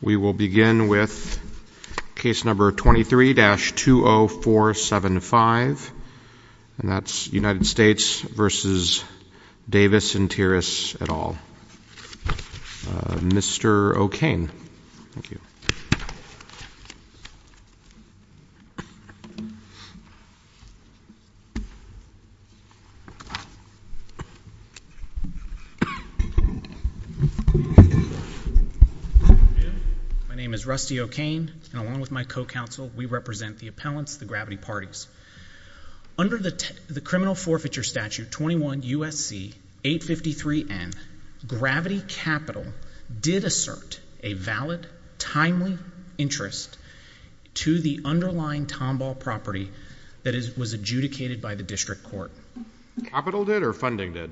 We will begin with case number 23-20475, and that's United States v. Davis and Tiras et al. Mr. O'Kane. My name is Rusty O'Kane, and along with my co-counsel, we represent the appellants, the gravity parties. Under the criminal forfeiture statute 21 U.S.C. 853N, Gravity Capital did assert a valid, timely interest to the underlying Tombaugh property that was adjudicated by the district court. Capital did or funding did?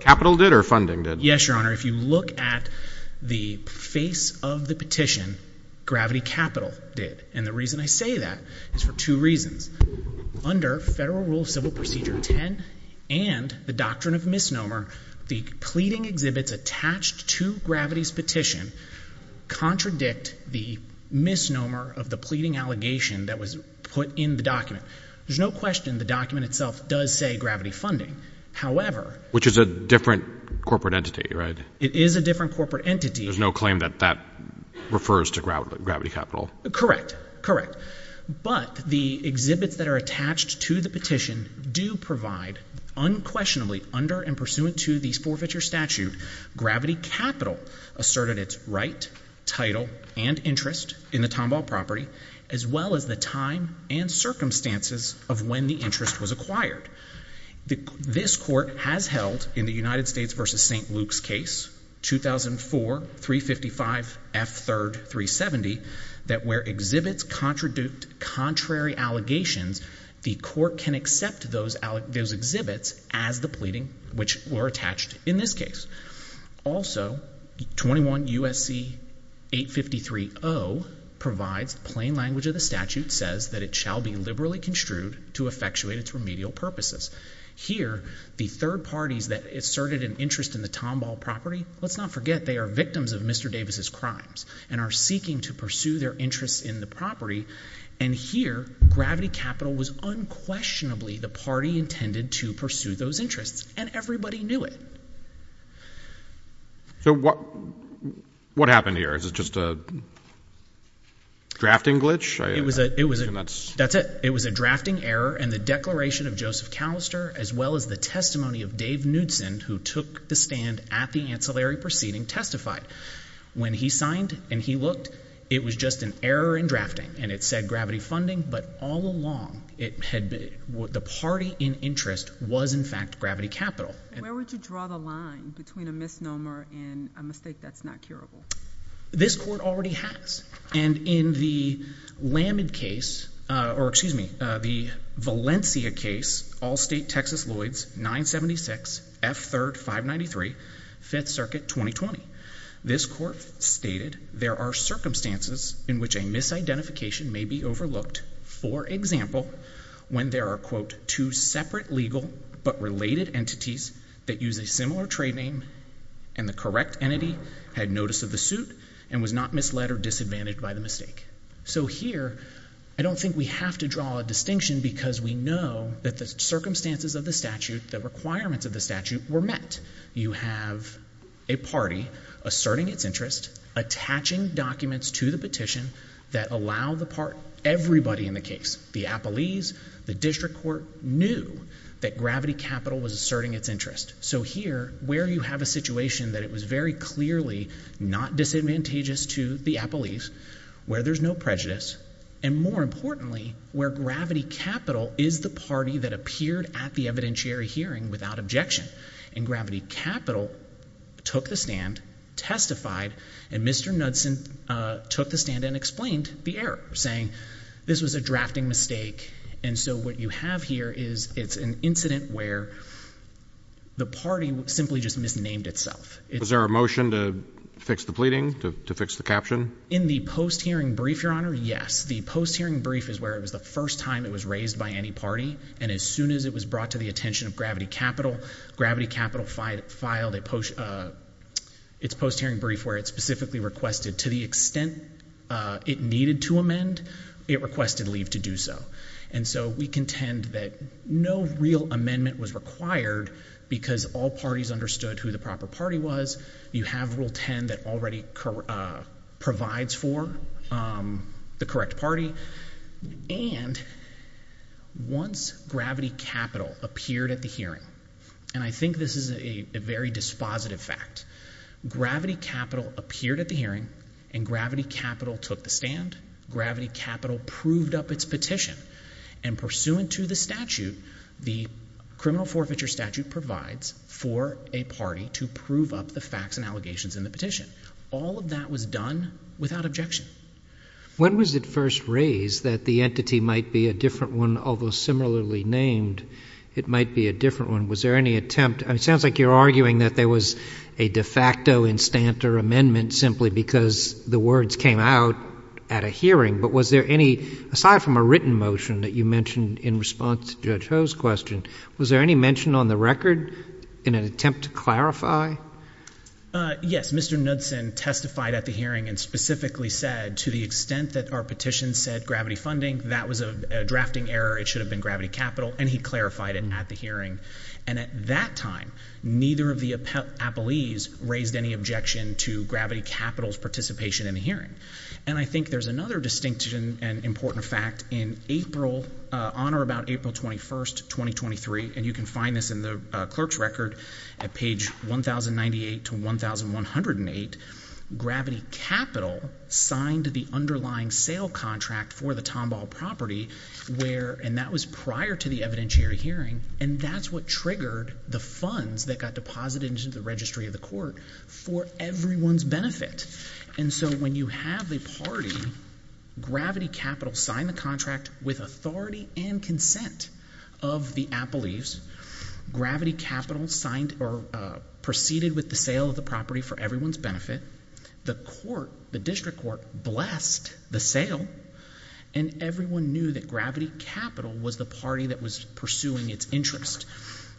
Capital did or funding did? Yes, Your Honor. If you look at the face of the petition, Gravity Capital did. And the reason I say that is for two reasons. Under Federal Rule of Civil Procedure 10 and the Doctrine of Misnomer, the pleading exhibits attached to Gravity's petition contradict the misnomer of the pleading allegation that was put in the document. There's no question the document itself does say gravity funding. However… Which is a different corporate entity, right? It is a different corporate entity. There's no claim that that refers to Gravity Capital? Correct. Correct. But the exhibits that are attached to the petition do provide unquestionably under and pursuant to the forfeiture statute, Gravity Capital asserted its right, title, and interest in the Tombaugh property, as well as the time and circumstances of when the interest was acquired. This court has held in the United States v. St. Luke's case, 2004-355-F3-370, that where exhibits contradict contrary allegations, the court can accept those exhibits as the pleading which were attached in this case. Also, 21 U.S.C. 853-0 provides plain language of the statute says that it shall be liberally construed to effectuate its remedial purposes. Here, the third parties that asserted an interest in the Tombaugh property, let's not forget they are victims of Mr. Davis' crimes and are seeking to pursue their interests in the property. And here, Gravity Capital was unquestionably the party intended to pursue those interests. And everybody knew it. So what happened here? Is it just a drafting glitch? That's it. It was a drafting error, and the declaration of Joseph Callister, as well as the testimony of Dave Knudson, who took the stand at the ancillary proceeding, testified. When he signed and he looked, it was just an error in drafting, and it said Gravity Funding, but all along, the party in interest was in fact Gravity Capital. Where would you draw the line between a misnomer and a mistake that's not curable? This court already has, and in the Valencia case, Allstate-Texas-Lloyds, 976 F. 3rd, 593, 5th Circuit, 2020, this court stated there are circumstances in which a misidentification may be overlooked. For example, when there are, quote, two separate legal but related entities that use a similar trade name and the correct entity had notice of the suit and was not misled or disadvantaged by the mistake. So here, I don't think we have to draw a distinction because we know that the circumstances of the statute, the requirements of the statute, were met. You have a party asserting its interest, attaching documents to the petition that allow everybody in the case, the appellees, the district court, knew that Gravity Capital was asserting its interest. So here, where you have a situation that it was very clearly not disadvantageous to the appellees, where there's no prejudice, and more importantly, where Gravity Capital is the party that appeared at the evidentiary hearing without objection. Gravity Capital took the stand, testified, and Mr. Knudson took the stand and explained the error, saying this was a drafting mistake. And so what you have here is it's an incident where the party simply just misnamed itself. Was there a motion to fix the pleading, to fix the caption? In the post-hearing brief, Your Honor, yes. The post-hearing brief is where it was the first time it was raised by any party, and as soon as it was brought to the attention of Gravity Capital, Gravity Capital filed its post-hearing brief where it specifically requested, to the extent it needed to amend, it requested leave to do so. And so we contend that no real amendment was required because all parties understood who the proper party was. You have Rule 10 that already provides for the correct party. And once Gravity Capital appeared at the hearing, and I think this is a very dispositive fact, Gravity Capital appeared at the hearing, and Gravity Capital took the stand. Gravity Capital proved up its petition, and pursuant to the statute, the criminal forfeiture statute provides for a party to prove up the facts and allegations in the petition. All of that was done without objection. When was it first raised that the entity might be a different one, although similarly named, it might be a different one? It sounds like you're arguing that there was a de facto instant or amendment simply because the words came out at a hearing. But was there any, aside from a written motion that you mentioned in response to Judge Ho's question, was there any mention on the record in an attempt to clarify? Yes. Mr. Knudsen testified at the hearing and specifically said, to the extent that our petition said Gravity Funding, that was a drafting error. It should have been Gravity Capital. And he clarified it at the hearing. And at that time, neither of the appellees raised any objection to Gravity Capital's participation in the hearing. And I think there's another distinct and important fact. In April, on or about April 21st, 2023, and you can find this in the clerk's record at page 1098 to 1108, Gravity Capital signed the underlying sale contract for the Tomball property, and that was prior to the evidentiary hearing. And that's what triggered the funds that got deposited into the registry of the court for everyone's benefit. And so when you have a party, Gravity Capital signed the contract with authority and consent of the appellees. Gravity Capital signed or proceeded with the sale of the property for everyone's benefit. The court, the district court, blessed the sale, and everyone knew that Gravity Capital was the party that was pursuing its interest.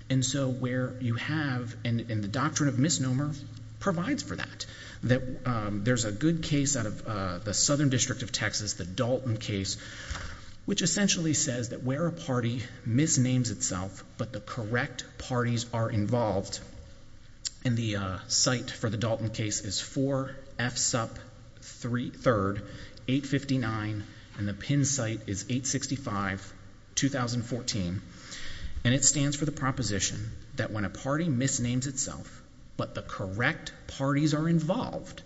And so where you have, and the doctrine of misnomer provides for that, that there's a good case out of the Southern District of Texas, the Dalton case, which essentially says that where a party misnames itself but the correct parties are involved, and the site for the Dalton case is 4F Sup 3rd, 859, and the PIN site is 865, 2014. And it stands for the proposition that when a party misnames itself but the correct parties are involved,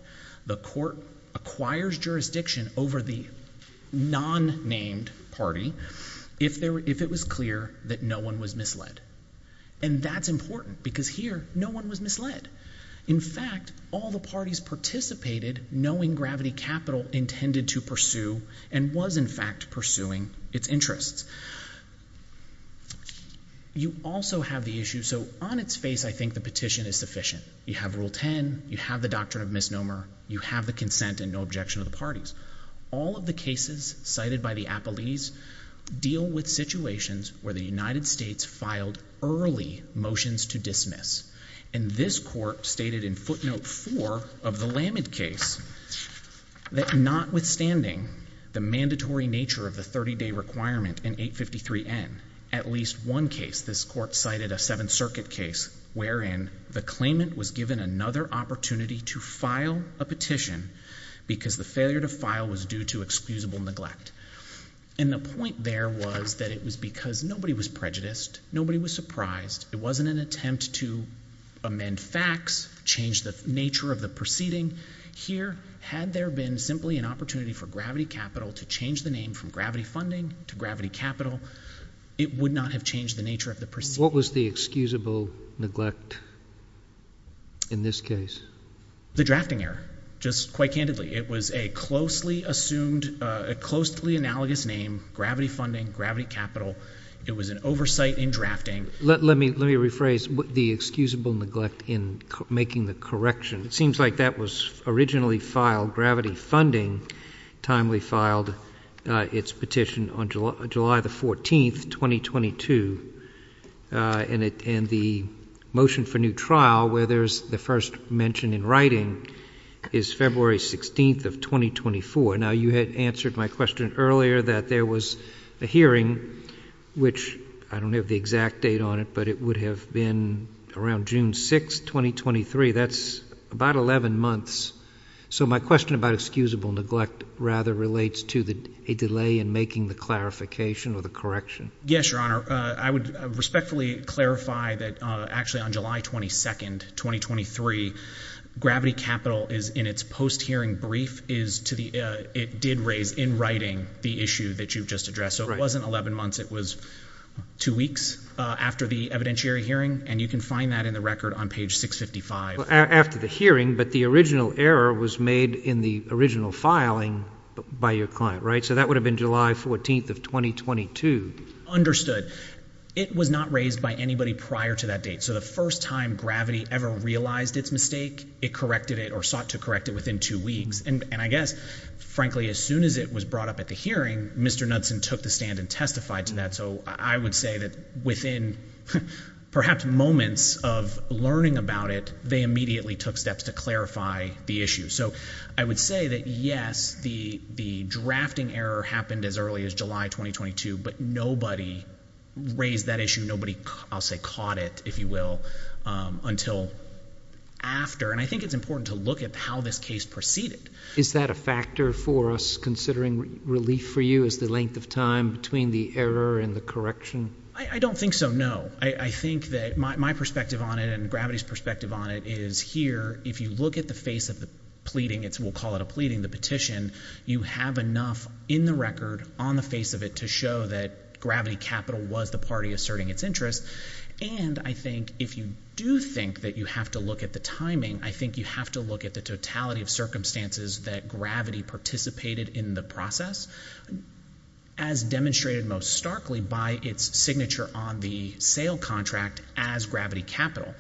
the court acquires jurisdiction over the non-named party if it was clear that no one was misled. And that's important because here, no one was misled. In fact, all the parties participated knowing Gravity Capital intended to pursue and was in fact pursuing its interests. You also have the issue, so on its face, I think the petition is sufficient. You have Rule 10, you have the doctrine of misnomer, you have the consent and no objection of the parties. All of the cases cited by the appellees deal with situations where the United States filed early motions to dismiss. And this court stated in footnote 4 of the Lamin case that notwithstanding the mandatory nature of the 30-day requirement in 853N, at least one case, this court cited a Seventh Circuit case wherein the claimant was given another opportunity to file a petition because the failure to file was due to excusable neglect. And the point there was that it was because nobody was prejudiced, nobody was surprised. It wasn't an attempt to amend facts, change the nature of the proceeding. Here, had there been simply an opportunity for Gravity Capital to change the name from Gravity Funding to Gravity Capital, it would not have changed the nature of the proceeding. What was the excusable neglect in this case? The drafting error, just quite candidly. It was a closely assumed, a closely analogous name, Gravity Funding, Gravity Capital. It was an oversight in drafting. Let me rephrase the excusable neglect in making the correction. It seems like that was originally filed, Gravity Funding timely filed its petition on July the 14th, 2022. And the motion for new trial where there's the first mention in writing is February 16th of 2024. Now, you had answered my question earlier that there was a hearing, which I don't have the exact date on it, but it would have been around June 6th, 2023. That's about 11 months. So my question about excusable neglect rather relates to a delay in making the clarification or the correction. Yes, Your Honor. I would respectfully clarify that actually on July 22nd, 2023, Gravity Capital is in its post-hearing brief. It did raise in writing the issue that you've just addressed. So it wasn't 11 months. It was two weeks after the evidentiary hearing, and you can find that in the record on page 655. After the hearing, but the original error was made in the original filing by your client, right? So that would have been July 14th of 2022. Understood. It was not raised by anybody prior to that date. So the first time Gravity ever realized its mistake, it corrected it or sought to correct it within two weeks. And I guess, frankly, as soon as it was brought up at the hearing, Mr. Knudsen took the stand and testified to that. So I would say that within perhaps moments of learning about it, they immediately took steps to clarify the issue. So I would say that, yes, the drafting error happened as early as July 2022, but nobody raised that issue. Nobody, I'll say, caught it, if you will, until after. And I think it's important to look at how this case proceeded. Is that a factor for us considering relief for you as the length of time between the error and the correction? I don't think so, no. I think that my perspective on it and Gravity's perspective on it is here, if you look at the face of the pleading, we'll call it a pleading, the petition, you have enough in the record on the face of it to show that Gravity Capital was the party asserting its interest. And I think if you do think that you have to look at the timing, I think you have to look at the totality of circumstances that Gravity participated in the process, as demonstrated most starkly by its signature on the sale contract as Gravity Capital.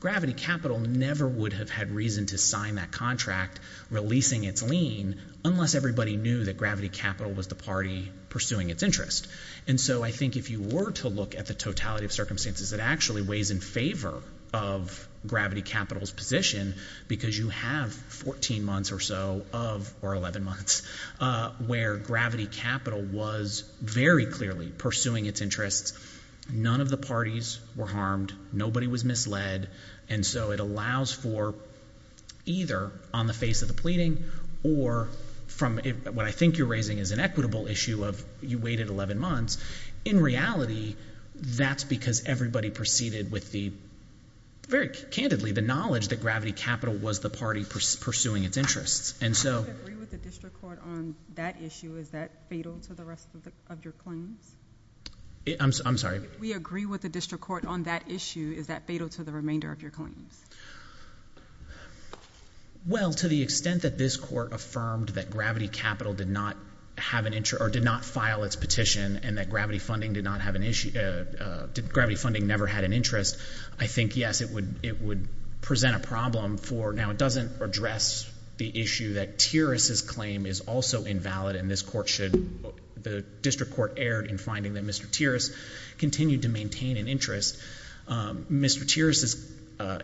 Gravity Capital never would have had reason to sign that contract, releasing its lien, unless everybody knew that Gravity Capital was the party pursuing its interest. And so I think if you were to look at the totality of circumstances, it actually weighs in favor of Gravity Capital's position, because you have 14 months or so of, or 11 months, where Gravity Capital was very clearly pursuing its interests. None of the parties were harmed. Nobody was misled. And so it allows for either on the face of the pleading or from what I think you're raising is an equitable issue of you waited 11 months. In reality, that's because everybody proceeded with the, very candidly, the knowledge that Gravity Capital was the party pursuing its interests. And so— Do we agree with the district court on that issue? Is that fatal to the rest of your claims? I'm sorry? Do we agree with the district court on that issue? Is that fatal to the remainder of your claims? Well, to the extent that this court affirmed that Gravity Capital did not have an interest, or did not file its petition, and that Gravity Funding did not have an issue, that Gravity Funding never had an interest, I think, yes, it would present a problem for, now it doesn't address the issue that Tiris's claim is also invalid, and this court should, the district court erred in finding that Mr. Tiris continued to maintain an interest. Mr. Tiris's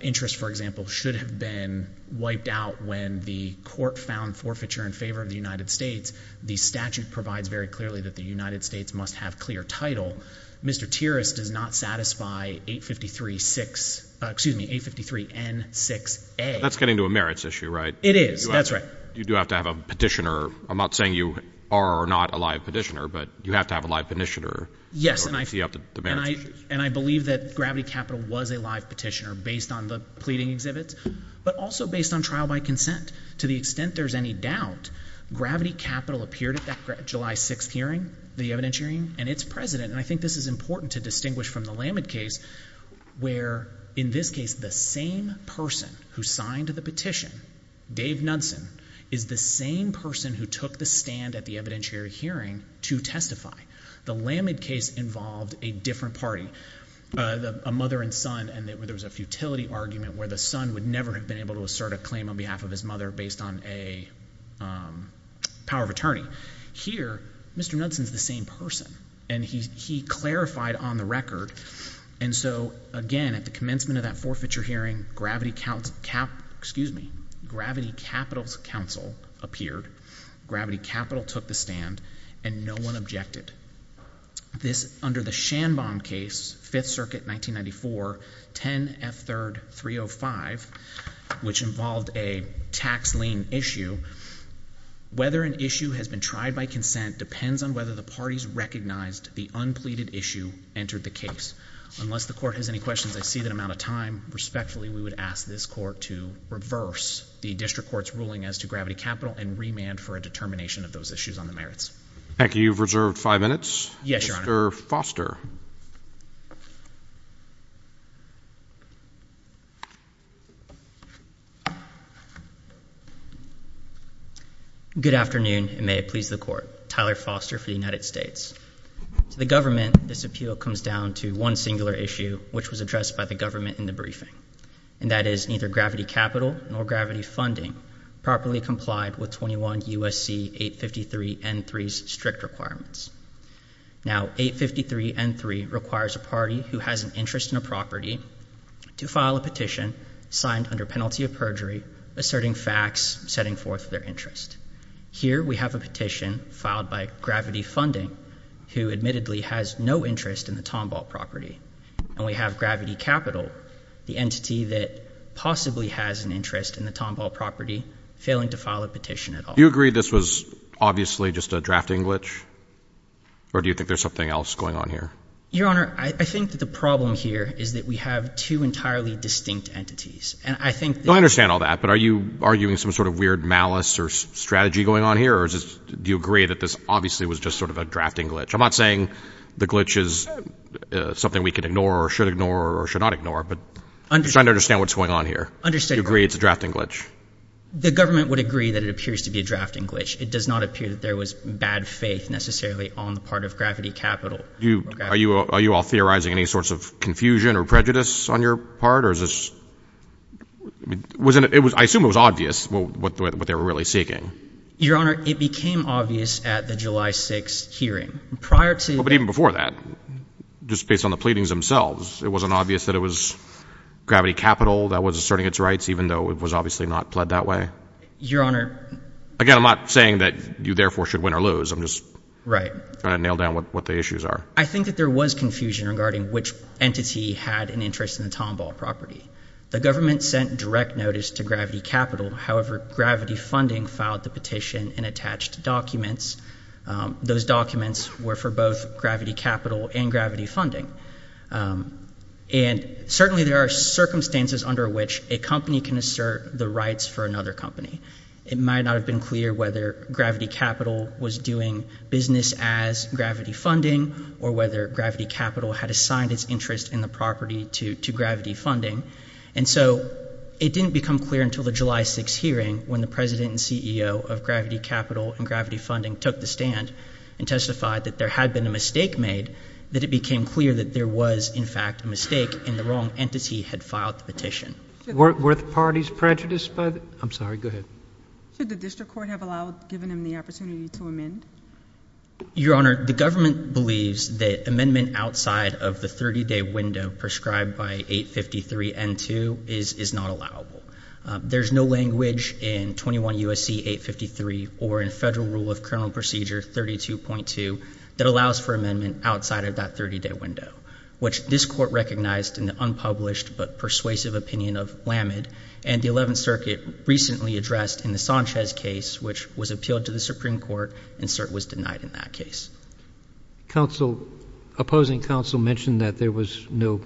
interest, for example, should have been wiped out when the court found forfeiture in favor of the United States. The statute provides very clearly that the United States must have clear title. Mr. Tiris does not satisfy 853-6—excuse me, 853-N-6-A. That's getting to a merits issue, right? It is. That's right. You do have to have a petitioner. I'm not saying you are or are not a live petitioner, but you have to have a live petitioner in order to see up the merits issues. And I believe that Gravity Capital was a live petitioner based on the pleading exhibits, but also based on trial by consent. To the extent there's any doubt, Gravity Capital appeared at that July 6th hearing, the evidentiary, and its president, and I think this is important to distinguish from the Lamid case where, in this case, the same person who signed the petition, Dave Knudsen, is the same person who took the stand at the evidentiary hearing to testify. The Lamid case involved a different party, a mother and son, and there was a futility argument where the son would never have been able to assert a claim on behalf of his mother based on a power of attorney. Here, Mr. Knudsen is the same person, and he clarified on the record. And so, again, at the commencement of that forfeiture hearing, Gravity Capital's counsel appeared. Gravity Capital took the stand, and no one objected. This, under the Shanbaum case, 5th Circuit, 1994, 10F3305, which involved a tax lien issue, whether an issue has been tried by consent depends on whether the parties recognized the unpleaded issue entered the case. Unless the court has any questions, I see that I'm out of time. Respectfully, we would ask this court to reverse the district court's ruling as to Gravity Capital and remand for a determination of those issues on the merits. Thank you. You've reserved five minutes. Yes, Your Honor. Good afternoon, and may it please the court. Tyler Foster for the United States. To the government, this appeal comes down to one singular issue, which was addressed by the government in the briefing, and that is neither Gravity Capital nor Gravity Funding properly complied with 21 U.S.C. 853 N.3's strict requirements. Now, 853 N.3 requires a party who has an interest in a property to file a petition signed under penalty of perjury, asserting facts, setting forth their interest. Here we have a petition filed by Gravity Funding, who admittedly has no interest in the Tombaugh property, and we have Gravity Capital, the entity that possibly has an interest in the Tombaugh property, failing to file a petition at all. Do you agree this was obviously just a drafting glitch, or do you think there's something else going on here? Your Honor, I think that the problem here is that we have two entirely distinct entities, and I think that— Do you agree that this obviously was just sort of a drafting glitch? I'm not saying the glitch is something we can ignore or should ignore or should not ignore, but I'm just trying to understand what's going on here. Do you agree it's a drafting glitch? The government would agree that it appears to be a drafting glitch. It does not appear that there was bad faith necessarily on the part of Gravity Capital. Are you all theorizing any sorts of confusion or prejudice on your part, or is this— I assume it was obvious what they were really seeking. Your Honor, it became obvious at the July 6 hearing. Prior to— But even before that, just based on the pleadings themselves, it wasn't obvious that it was Gravity Capital that was asserting its rights, even though it was obviously not pled that way? Your Honor— Again, I'm not saying that you therefore should win or lose. I'm just trying to nail down what the issues are. I think that there was confusion regarding which entity had an interest in the Tombaugh property. The government sent direct notice to Gravity Capital. However, Gravity Funding filed the petition and attached documents. Those documents were for both Gravity Capital and Gravity Funding. And certainly there are circumstances under which a company can assert the rights for another company. It might not have been clear whether Gravity Capital was doing business as Gravity Funding or whether Gravity Capital had assigned its interest in the property to Gravity Funding. And so it didn't become clear until the July 6 hearing when the president and CEO of Gravity Capital and Gravity Funding took the stand and testified that there had been a mistake made, that it became clear that there was, in fact, a mistake and the wrong entity had filed the petition. Were the parties prejudiced by the—I'm sorry, go ahead. Should the district court have allowed—given them the opportunity to amend? Your Honor, the government believes that amendment outside of the 30-day window prescribed by 853 N.2 is not allowable. There's no language in 21 U.S.C. 853 or in Federal Rule of Criminal Procedure 32.2 that allows for amendment outside of that 30-day window, which this court recognized in the unpublished but persuasive opinion of Lammed and the Eleventh Circuit recently addressed in the Sanchez case, which was appealed to the Supreme Court, and cert was denied in that case. Counsel, opposing counsel mentioned that there was no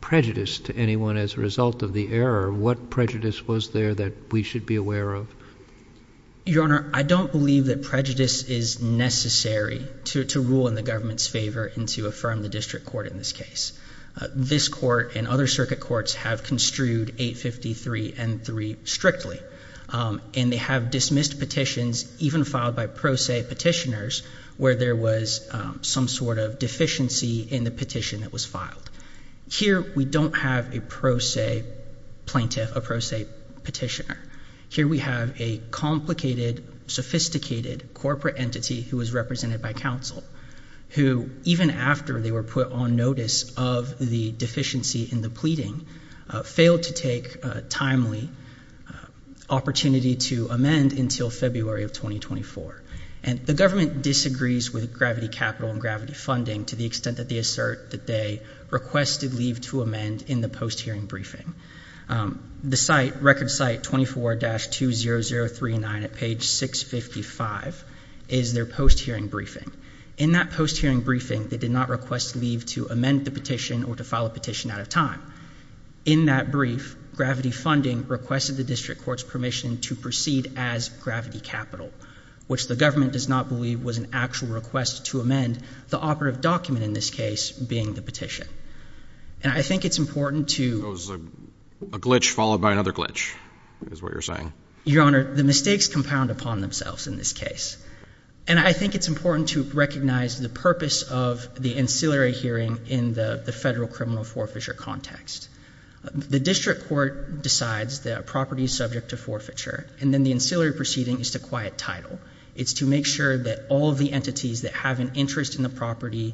prejudice to anyone as a result of the error. What prejudice was there that we should be aware of? Your Honor, I don't believe that prejudice is necessary to rule in the government's favor and to affirm the district court in this case. This court and other circuit courts have construed 853 N.3 strictly, and they have dismissed petitions, even filed by pro se petitioners, where there was some sort of deficiency in the petition that was filed. Here we don't have a pro se plaintiff, a pro se petitioner. Here we have a complicated, sophisticated corporate entity who was represented by counsel, who even after they were put on notice of the deficiency in the pleading, failed to take a timely opportunity to amend until February of 2024. The government disagrees with Gravity Capital and Gravity Funding to the extent that they assert that they requested leave to amend in the post-hearing briefing. The site, record site 24-20039 at page 655, is their post-hearing briefing. In that post-hearing briefing, they did not request leave to amend the petition or to file a petition out of time. In that brief, Gravity Funding requested the district court's permission to proceed as Gravity Capital, which the government does not believe was an actual request to amend, the operative document in this case being the petition. And I think it's important to... It was a glitch followed by another glitch, is what you're saying. Your Honor, the mistakes compound upon themselves in this case. And I think it's important to recognize the purpose of the ancillary hearing in the federal criminal forfeiture context. The district court decides that a property is subject to forfeiture, and then the ancillary proceeding is to quiet title. It's to make sure that all of the entities that have an interest in the property,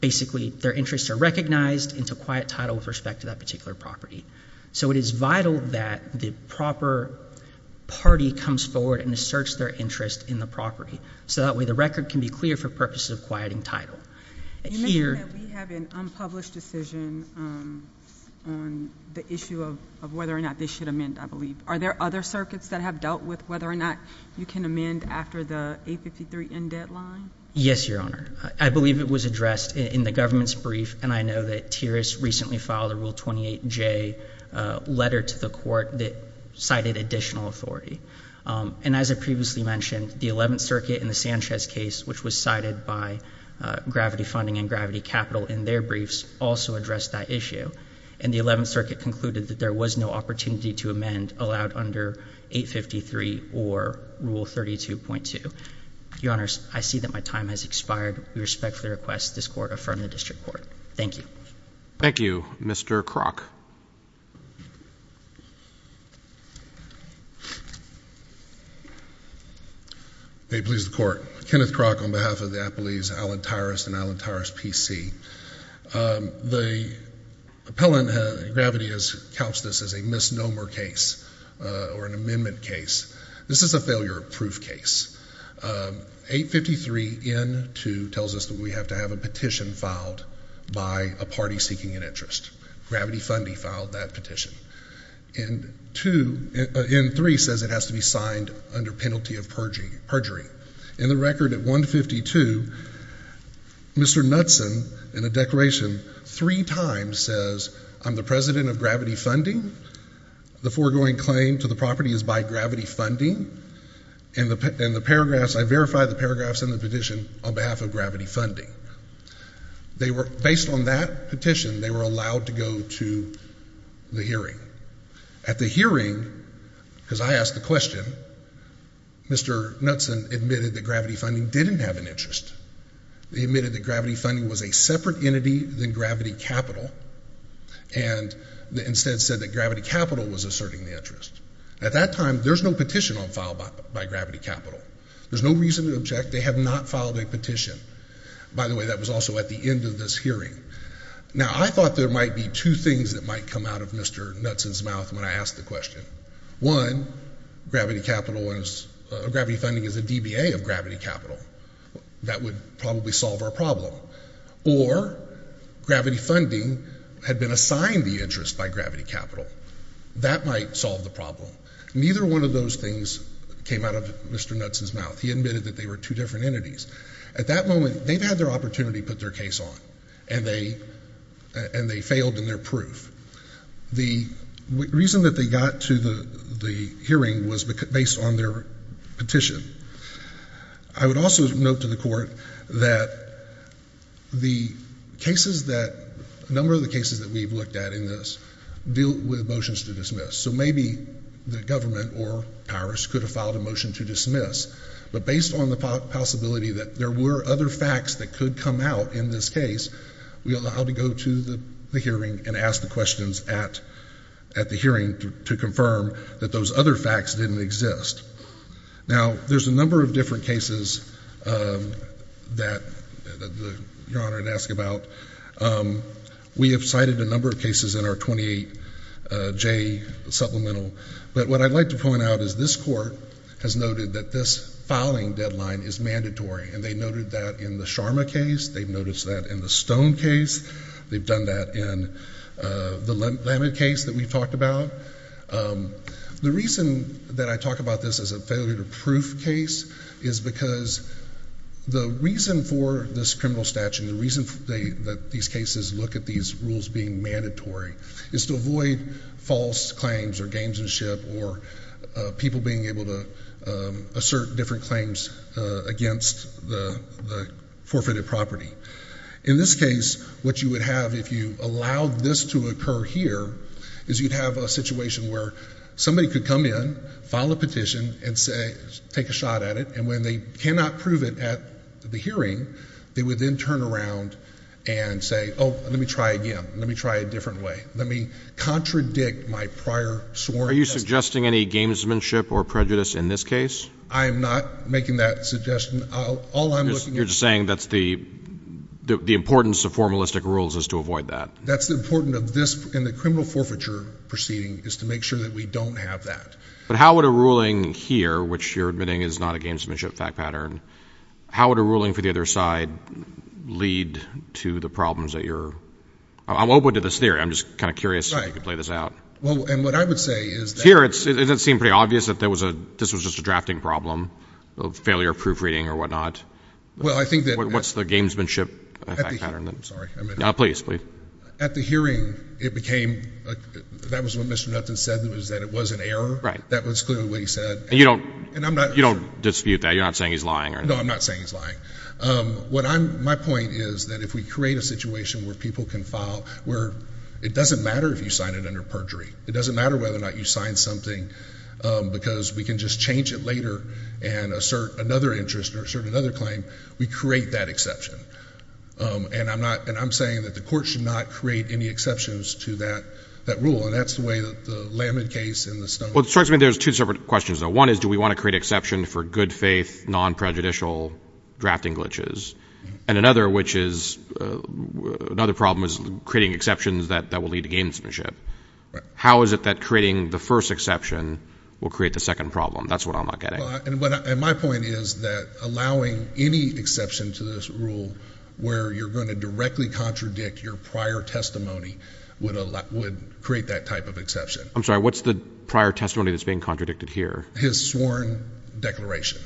basically their interests are recognized into quiet title with respect to that particular property. So it is vital that the proper party comes forward and asserts their interest in the property, so that way the record can be clear for purposes of quieting title. You mentioned that we have an unpublished decision on the issue of whether or not they should amend, I believe. Are there other circuits that have dealt with whether or not you can amend after the 853N deadline? Yes, Your Honor. I believe it was addressed in the government's brief, and I know that Tiris recently filed a Rule 28J letter to the court that cited additional authority. And as I previously mentioned, the 11th Circuit in the Sanchez case, which was cited by Gravity Funding and Gravity Capital in their briefs, also addressed that issue. And the 11th Circuit concluded that there was no opportunity to amend allowed under 853 or Rule 32.2. Your Honor, I see that my time has expired. We respectfully request this court affirm the district court. Thank you. Thank you. Mr. Kroc. May it please the Court. Kenneth Kroc on behalf of the Appellees Alan Tiris and Alan Tiris, PC. The appellant, Gravity, has couched this as a misnomer case or an amendment case. This is a failure of proof case. 853N2 tells us that we have to have a petition filed by a party seeking an interest. Gravity Funding filed that petition. And N3 says it has to be signed under penalty of perjury. In the record at 152, Mr. Knudsen, in a declaration, three times says, I'm the president of Gravity Funding, the foregoing claim to the property is by Gravity Funding, and the paragraphs, I verify the paragraphs in the petition on behalf of Gravity Funding. Based on that petition, they were allowed to go to the hearing. At the hearing, because I asked the question, Mr. Knudsen admitted that Gravity Funding didn't have an interest. He admitted that Gravity Funding was a separate entity than Gravity Capital and instead said that Gravity Capital was asserting the interest. At that time, there's no petition filed by Gravity Capital. There's no reason to object. They have not filed a petition. By the way, that was also at the end of this hearing. Now, I thought there might be two things that might come out of Mr. Knudsen's mouth when I asked the question. One, Gravity Funding is a DBA of Gravity Capital. That would probably solve our problem. Or Gravity Funding had been assigned the interest by Gravity Capital. That might solve the problem. Neither one of those things came out of Mr. Knudsen's mouth. He admitted that they were two different entities. At that moment, they've had their opportunity to put their case on, and they failed in their proof. The reason that they got to the hearing was based on their petition. I would also note to the court that the cases that – a number of the cases that we've looked at in this deal with motions to dismiss. So maybe the government or Congress could have filed a motion to dismiss, but based on the possibility that there were other facts that could come out in this case, we allowed to go to the hearing and ask the questions at the hearing to confirm that those other facts didn't exist. Now, there's a number of different cases that Your Honor would ask about. We have cited a number of cases in our 28J supplemental. But what I'd like to point out is this court has noted that this filing deadline is mandatory, and they noted that in the Sharma case. They've noticed that in the Stone case. They've done that in the Lamed case that we've talked about. The reason that I talk about this as a failure to proof case is because the reason for this criminal statute, the reason that these cases look at these rules being mandatory is to avoid false claims or games and ship or people being able to assert different claims against the forfeited property. In this case, what you would have if you allowed this to occur here is you'd have a situation where somebody could come in, file a petition, and take a shot at it. And when they cannot prove it at the hearing, they would then turn around and say, oh, let me try again. Let me try a different way. Let me contradict my prior sworn testimony. Are you suggesting any gamesmanship or prejudice in this case? I am not making that suggestion. All I'm looking at is the importance of formalistic rules is to avoid that. That's the importance of this in the criminal forfeiture proceeding is to make sure that we don't have that. But how would a ruling here, which you're admitting is not a gamesmanship fact pattern, how would a ruling for the other side lead to the problems that you're ‑‑ I'm open to this theory. I'm just kind of curious if you could play this out. Right. Well, and what I would say is that ‑‑ Here it doesn't seem pretty obvious that this was just a drafting problem of failure of proofreading or whatnot. Well, I think that ‑‑ What's the gamesmanship fact pattern? I'm sorry. Please, please. Well, at the hearing, it became ‑‑ that was what Mr. Nutten said was that it was an error. Right. That was clearly what he said. And you don't dispute that. You're not saying he's lying. No, I'm not saying he's lying. My point is that if we create a situation where people can file where it doesn't matter if you sign it under perjury. It doesn't matter whether or not you sign something because we can just change it later and assert another interest or assert another claim, we create that exception. And I'm not ‑‑ and I'm saying that the court should not create any exceptions to that rule. And that's the way that the Lamin case and the Stoney ‑‑ Well, it strikes me there's two separate questions. One is do we want to create exception for good faith, non‑prejudicial drafting glitches? And another which is ‑‑ another problem is creating exceptions that will lead to gamesmanship. Right. How is it that creating the first exception will create the second problem? That's what I'm not getting. And my point is that allowing any exception to this rule where you're going to directly contradict your prior testimony would create that type of exception. I'm sorry. What's the prior testimony that's being contradicted here? His sworn declaration.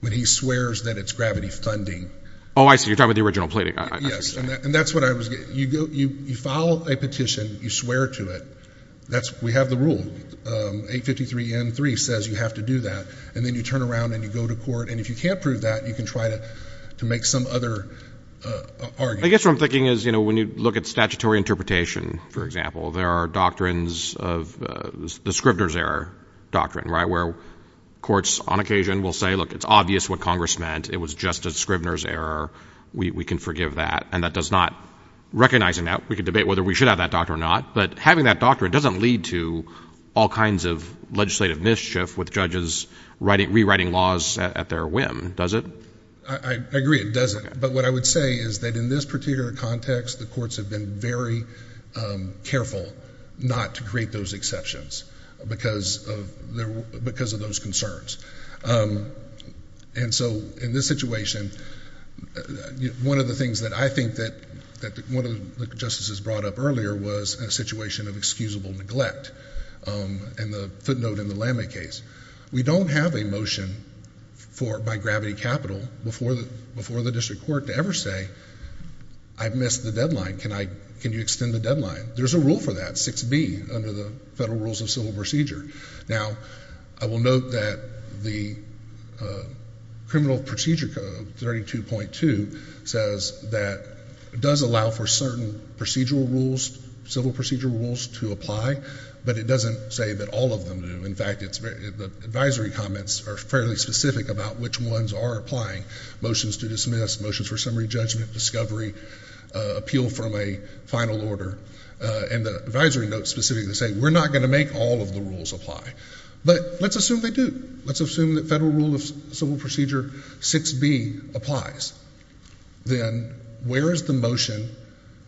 When he swears that it's gravity funding. Oh, I see. You're talking about the original plating. Yes. And that's what I was getting. You file a petition. You swear to it. We have the rule. 853N3 says you have to do that. And then you turn around and you go to court. And if you can't prove that, you can try to make some other argument. I guess what I'm thinking is, you know, when you look at statutory interpretation, for example, there are doctrines of the Scrivener's error doctrine, right, where courts on occasion will say, look, it's obvious what Congress meant. It was just a Scrivener's error. We can forgive that. And that does not ‑‑ recognizing that, we can debate whether we should have that doctrine or not. But having that doctrine doesn't lead to all kinds of legislative mischief with judges rewriting laws at their whim, does it? I agree it doesn't. But what I would say is that in this particular context, the courts have been very careful not to create those exceptions because of those concerns. And so in this situation, one of the things that I think that one of the justices brought up earlier was a situation of excusable neglect. And the footnote in the Lame case. We don't have a motion by gravity capital before the district court to ever say, I've missed the deadline. Can you extend the deadline? There's a rule for that, 6B, under the Federal Rules of Civil Procedure. Now, I will note that the Criminal Procedure Code, 32.2, says that it does allow for certain procedural rules, civil procedural rules, to apply. But it doesn't say that all of them do. In fact, the advisory comments are fairly specific about which ones are applying. Motions to dismiss, motions for summary judgment, discovery, appeal from a final order. And the advisory notes specifically say, we're not going to make all of the rules apply. But let's assume they do. Let's assume that Federal Rule of Civil Procedure 6B applies. Then where is the motion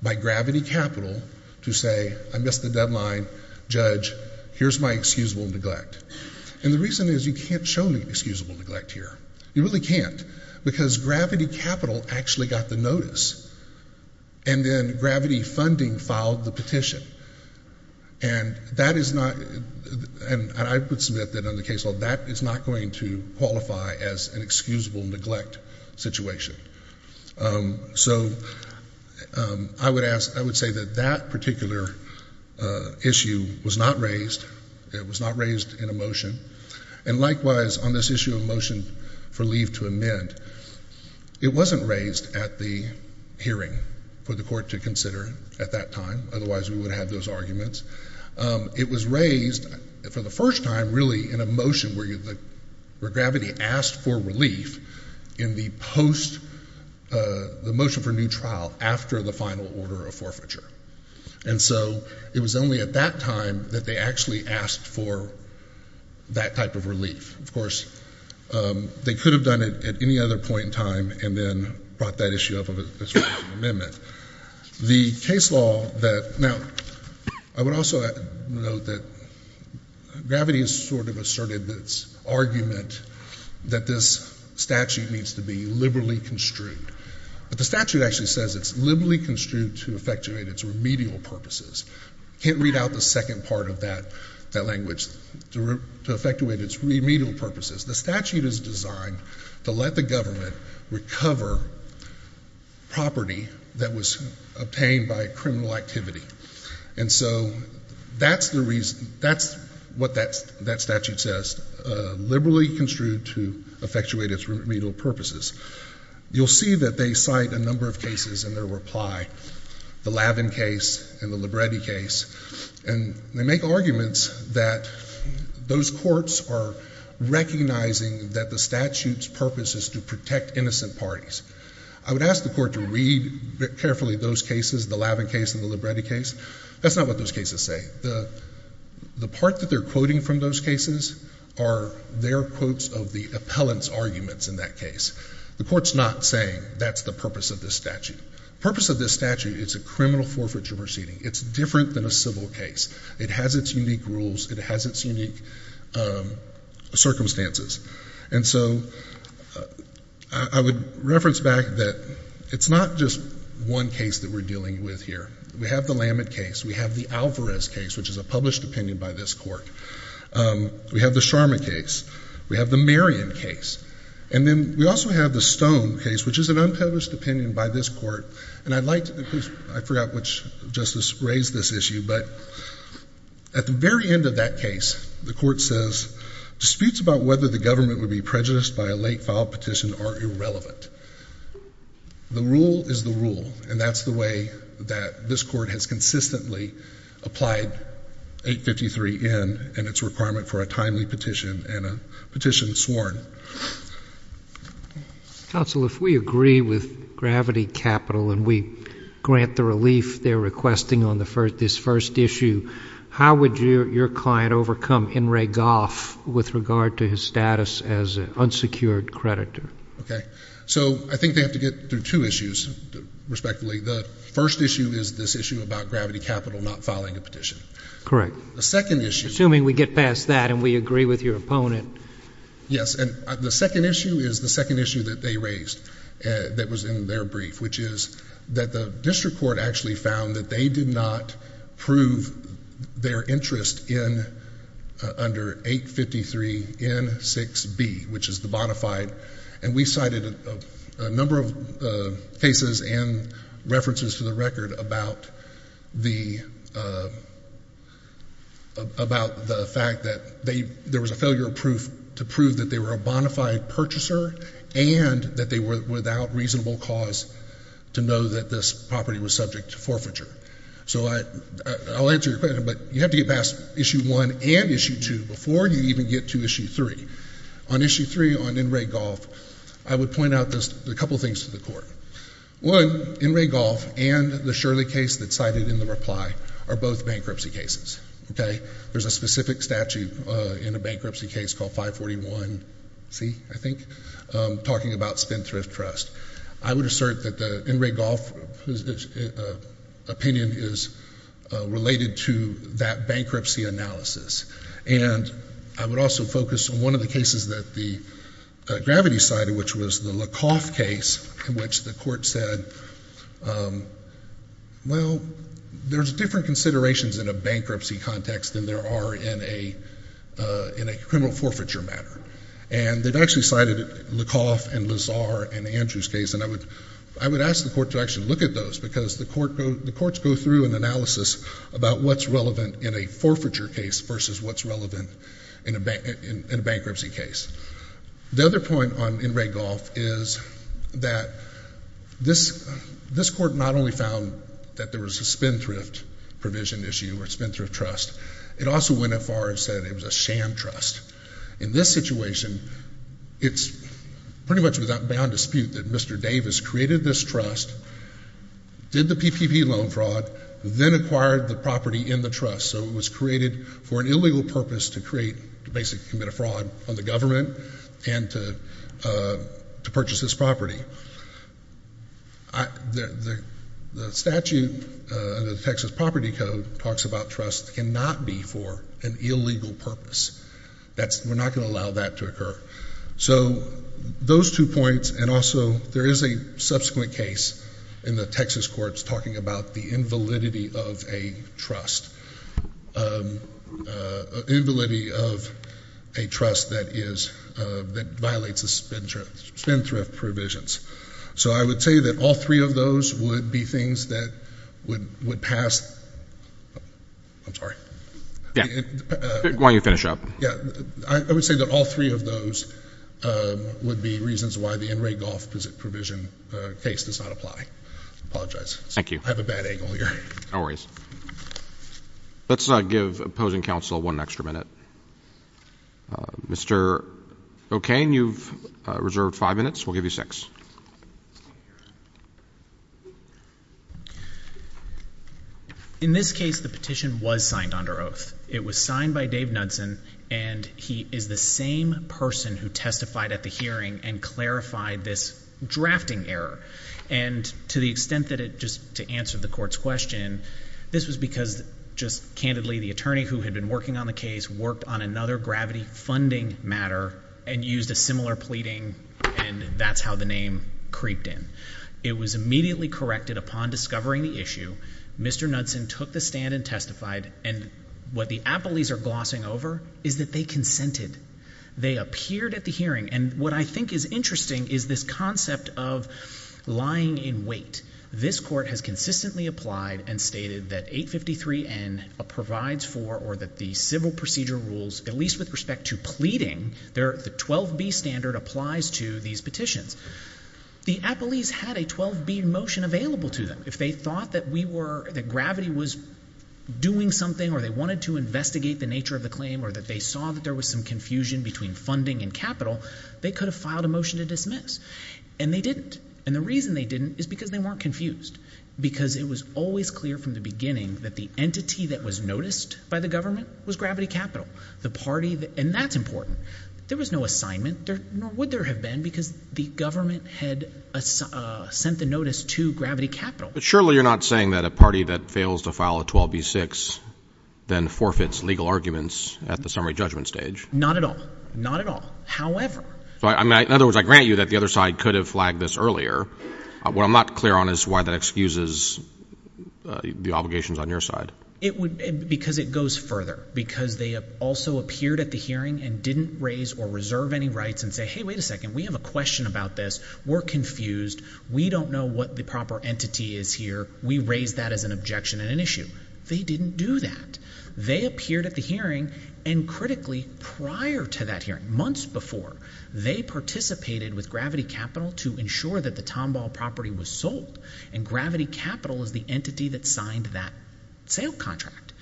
by gravity capital to say, I missed the deadline. Judge, here's my excusable neglect. And the reason is you can't show the excusable neglect here. You really can't. Because gravity capital actually got the notice. And then gravity funding filed the petition. And that is not, and I would submit that on the case law, that is not going to qualify as an excusable neglect situation. So, I would ask, I would say that that particular issue was not raised. It was not raised in a motion. And likewise, on this issue of motion for leave to amend, it wasn't raised at the hearing for the court to consider at that time. Otherwise, we would have those arguments. It was raised for the first time, really, in a motion where gravity asked for relief in the post, the motion for new trial after the final order of forfeiture. And so, it was only at that time that they actually asked for that type of relief. Of course, they could have done it at any other point in time and then brought that issue up as an amendment. The case law that, now, I would also note that gravity has sort of asserted its argument that this statute needs to be liberally construed. But the statute actually says it's liberally construed to effectuate its remedial purposes. I can't read out the second part of that language, to effectuate its remedial purposes. The statute is designed to let the government recover property that was obtained by criminal activity. And so, that's the reason, that's what that statute says, liberally construed to effectuate its remedial purposes. You'll see that they cite a number of cases in their reply, the Lavin case and the Libretti case. And they make arguments that those courts are recognizing that the statute's purpose is to protect innocent parties. I would ask the court to read carefully those cases, the Lavin case and the Libretti case. That's not what those cases say. The part that they're quoting from those cases are their quotes of the appellant's arguments in that case. The court's not saying that's the purpose of this statute. The purpose of this statute is a criminal forfeiture proceeding. It's different than a civil case. It has its unique rules. It has its unique circumstances. And so, I would reference back that it's not just one case that we're dealing with here. We have the Lamin case. We have the Alvarez case, which is a published opinion by this court. We have the Sharma case. We have the Marion case. And then, we also have the Stone case, which is an unpublished opinion by this court. And I'd like to, I forgot which justice raised this issue, but at the very end of that case, the court says, disputes about whether the government would be prejudiced by a late-filed petition are irrelevant. The rule is the rule, and that's the way that this court has consistently applied 853N and its requirement for a timely petition and a petition sworn. Counsel, if we agree with Gravity Capital and we grant the relief they're requesting on this first issue, how would your client overcome In re Goff with regard to his status as an unsecured creditor? Okay. So, I think they have to get through two issues, respectively. The first issue is this issue about Gravity Capital not filing a petition. Correct. The second issue. Assuming we get past that and we agree with your opponent. Yes, and the second issue is the second issue that they raised that was in their brief, which is that the district court actually found that they did not prove their interest in under 853N6B, which is the bonafide. And we cited a number of cases and references to the record about the fact that there was a failure of proof to prove that they were a bonafide purchaser and that they were without reasonable cause to know that this property was subject to forfeiture. So, I'll answer your question, but you have to get past Issue 1 and Issue 2 before you even get to Issue 3. On Issue 3, on In re Goff, I would point out a couple things to the court. One, In re Goff and the Shirley case that's cited in the reply are both bankruptcy cases. There's a specific statute in a bankruptcy case called 541C, I think, talking about Spendthrift Trust. I would assert that the In re Goff opinion is related to that bankruptcy analysis. And I would also focus on one of the cases that the Gravity cited, which was the Lecoff case, in which the court said, well, there's different considerations in a bankruptcy context than there are in a criminal forfeiture matter. And they've actually cited Lecoff and Lazar in Andrew's case, and I would ask the court to actually look at those, because the courts go through an analysis about what's relevant in a forfeiture case versus what's relevant in a bankruptcy case. The other point on In re Goff is that this court not only found that there was a Spendthrift provision issue or Spendthrift Trust, it also went as far as saying it was a sham trust. In this situation, it's pretty much beyond dispute that Mr. Davis created this trust, did the PPP loan fraud, then acquired the property in the trust. So it was created for an illegal purpose to create, to basically commit a fraud on the government and to purchase this property. The statute in the Texas Property Code talks about trust cannot be for an illegal purpose. We're not going to allow that to occur. So those two points, and also there is a subsequent case in the Texas courts talking about the invalidity of a trust, invalidity of a trust that is, that violates the Spendthrift provisions. So I would say that all three of those would be things that would pass. I'm sorry. Yeah. Why don't you finish up? Yeah. I would say that all three of those would be reasons why the in-rate Goff provision case does not apply. Thank you. I have a bad angle here. Let's give opposing counsel one extra minute. Mr. O'Kane, you've reserved five minutes. We'll give you six. In this case, the petition was signed under oath. It was signed by Dave Knudsen, and he is the same person who testified at the hearing and clarified this drafting error. And to the extent that it, just to answer the court's question, this was because, just candidly, the attorney who had been working on the case worked on another gravity funding matter and used a similar pleading, and that's how the name creeped in. It was immediately corrected upon discovering the issue. Mr. Knudsen took the stand and testified, and what the appellees are glossing over is that they consented. They appeared at the hearing, and what I think is interesting is this concept of lying in wait. This court has consistently applied and stated that 853N provides for or that the civil procedure rules, at least with respect to pleading, the 12B standard applies to these petitions. The appellees had a 12B motion available to them. If they thought that we were, that gravity was doing something or they wanted to investigate the nature of the claim or that they saw that there was some confusion between funding and capital, they could have filed a motion to dismiss, and they didn't, and the reason they didn't is because they weren't confused, because it was always clear from the beginning that the entity that was noticed by the government was Gravity Capital, the party that, and that's important. There was no assignment, nor would there have been, because the government had sent the notice to Gravity Capital. But surely you're not saying that a party that fails to file a 12B-6 then forfeits legal arguments at the summary judgment stage. Not at all, not at all. However – In other words, I grant you that the other side could have flagged this earlier. What I'm not clear on is why that excuses the obligations on your side. Because it goes further, because they also appeared at the hearing and didn't raise or reserve any rights and say, hey, wait a second, we have a question about this, we're confused, we don't know what the proper entity is here, we raise that as an objection and an issue. They didn't do that. They appeared at the hearing, and critically, prior to that hearing, months before, they participated with Gravity Capital to ensure that the Tomball property was sold, and Gravity Capital is the entity that signed that sale contract.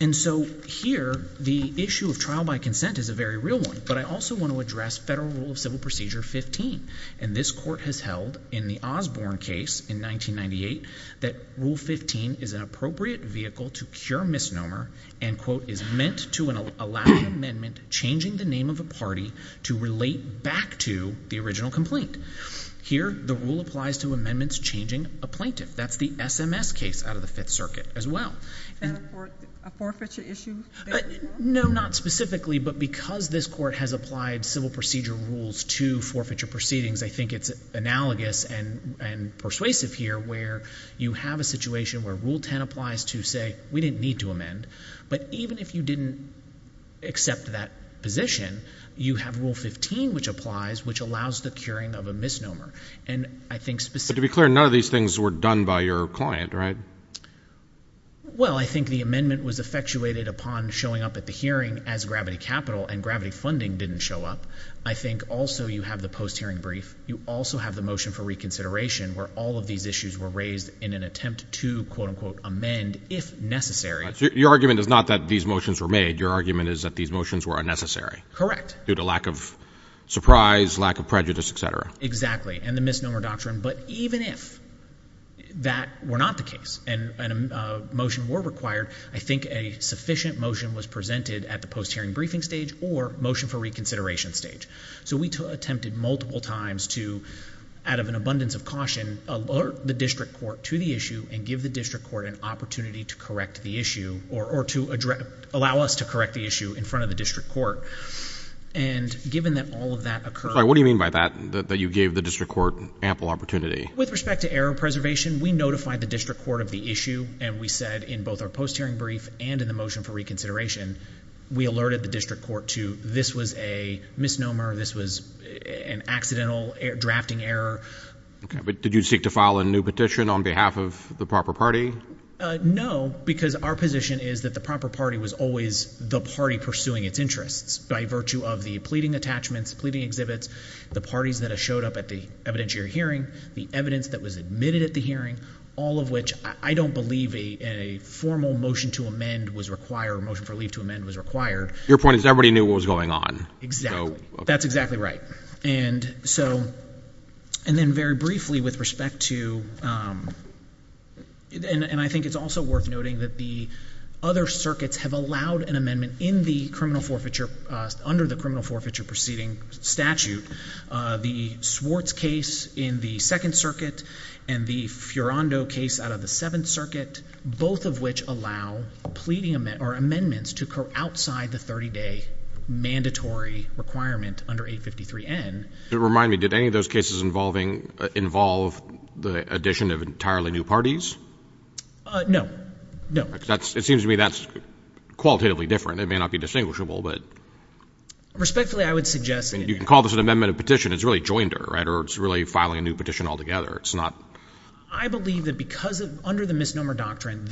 And so here, the issue of trial by consent is a very real one. But I also want to address Federal Rule of Civil Procedure 15. And this court has held, in the Osborne case in 1998, that Rule 15 is an appropriate vehicle to cure misnomer and is meant to allow an amendment changing the name of a party to relate back to the original complaint. Here, the rule applies to amendments changing a plaintiff. That's the SMS case out of the Fifth Circuit as well. Is that a forfeiture issue? No, not specifically, but because this court has applied civil procedure rules to forfeiture proceedings, I think it's analogous and persuasive here where you have a situation where Rule 10 applies to say, we didn't need to amend, but even if you didn't accept that position, you have Rule 15, which applies, which allows the curing of a misnomer. But to be clear, none of these things were done by your client, right? Well, I think the amendment was effectuated upon showing up at the hearing as Gravity Capital, and Gravity Funding didn't show up. I think also you have the post-hearing brief. You also have the motion for reconsideration where all of these issues were raised in an attempt to, quote, unquote, amend if necessary. Your argument is not that these motions were made. Your argument is that these motions were unnecessary. Correct. Due to lack of surprise, lack of prejudice, et cetera. Exactly, and the misnomer doctrine. But even if that were not the case and a motion were required, I think a sufficient motion was presented at the post-hearing briefing stage or motion for reconsideration stage. So we attempted multiple times to, out of an abundance of caution, alert the district court to the issue and give the district court an opportunity to correct the issue or to allow us to correct the issue in front of the district court. And given that all of that occurred. What do you mean by that, that you gave the district court ample opportunity? With respect to error preservation, we notified the district court of the issue, and we said in both our post-hearing brief and in the motion for reconsideration, we alerted the district court to this was a misnomer, this was an accidental drafting error. But did you seek to file a new petition on behalf of the proper party? No, because our position is that the proper party was always the party pursuing its interests. By virtue of the pleading attachments, pleading exhibits, the parties that have showed up at the evidentiary hearing, the evidence that was admitted at the hearing, all of which I don't believe a formal motion to amend was required, a motion for leave to amend was required. Your point is everybody knew what was going on. Exactly. That's exactly right. And so, and then very briefly with respect to, and I think it's also worth noting that the other circuits have allowed an amendment in the criminal forfeiture, under the criminal forfeiture proceeding statute, the Swartz case in the Second Circuit, and the Fiorando case out of the Seventh Circuit, both of which allow amendments to go outside the 30-day mandatory requirement under 853N. Remind me, did any of those cases involve the addition of entirely new parties? No, no. It seems to me that's qualitatively different. It may not be distinguishable, but. Respectfully, I would suggest. You can call this an amendment of petition. It's really joinder, right, or it's really filing a new petition altogether. It's not. I believe that because under the misnomer doctrine,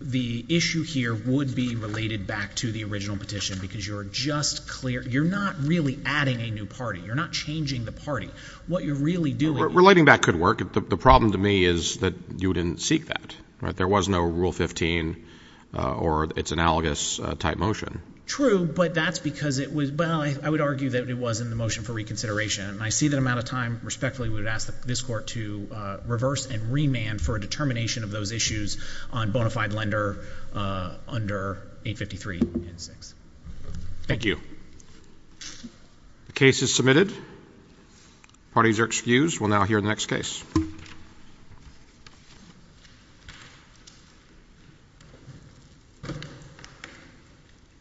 the issue here would be related back to the original petition because you're just clear. You're not really adding a new party. You're not changing the party. What you're really doing. Relating that could work. The problem to me is that you didn't seek that. There was no Rule 15 or its analogous type motion. True, but that's because it was, well, I would argue that it was in the motion for reconsideration. I see that I'm out of time. Respectfully, we would ask this court to reverse and remand for a determination of those issues on bona fide lender under 853N6. Thank you. The case is submitted. Parties are excused. We'll now hear the next case.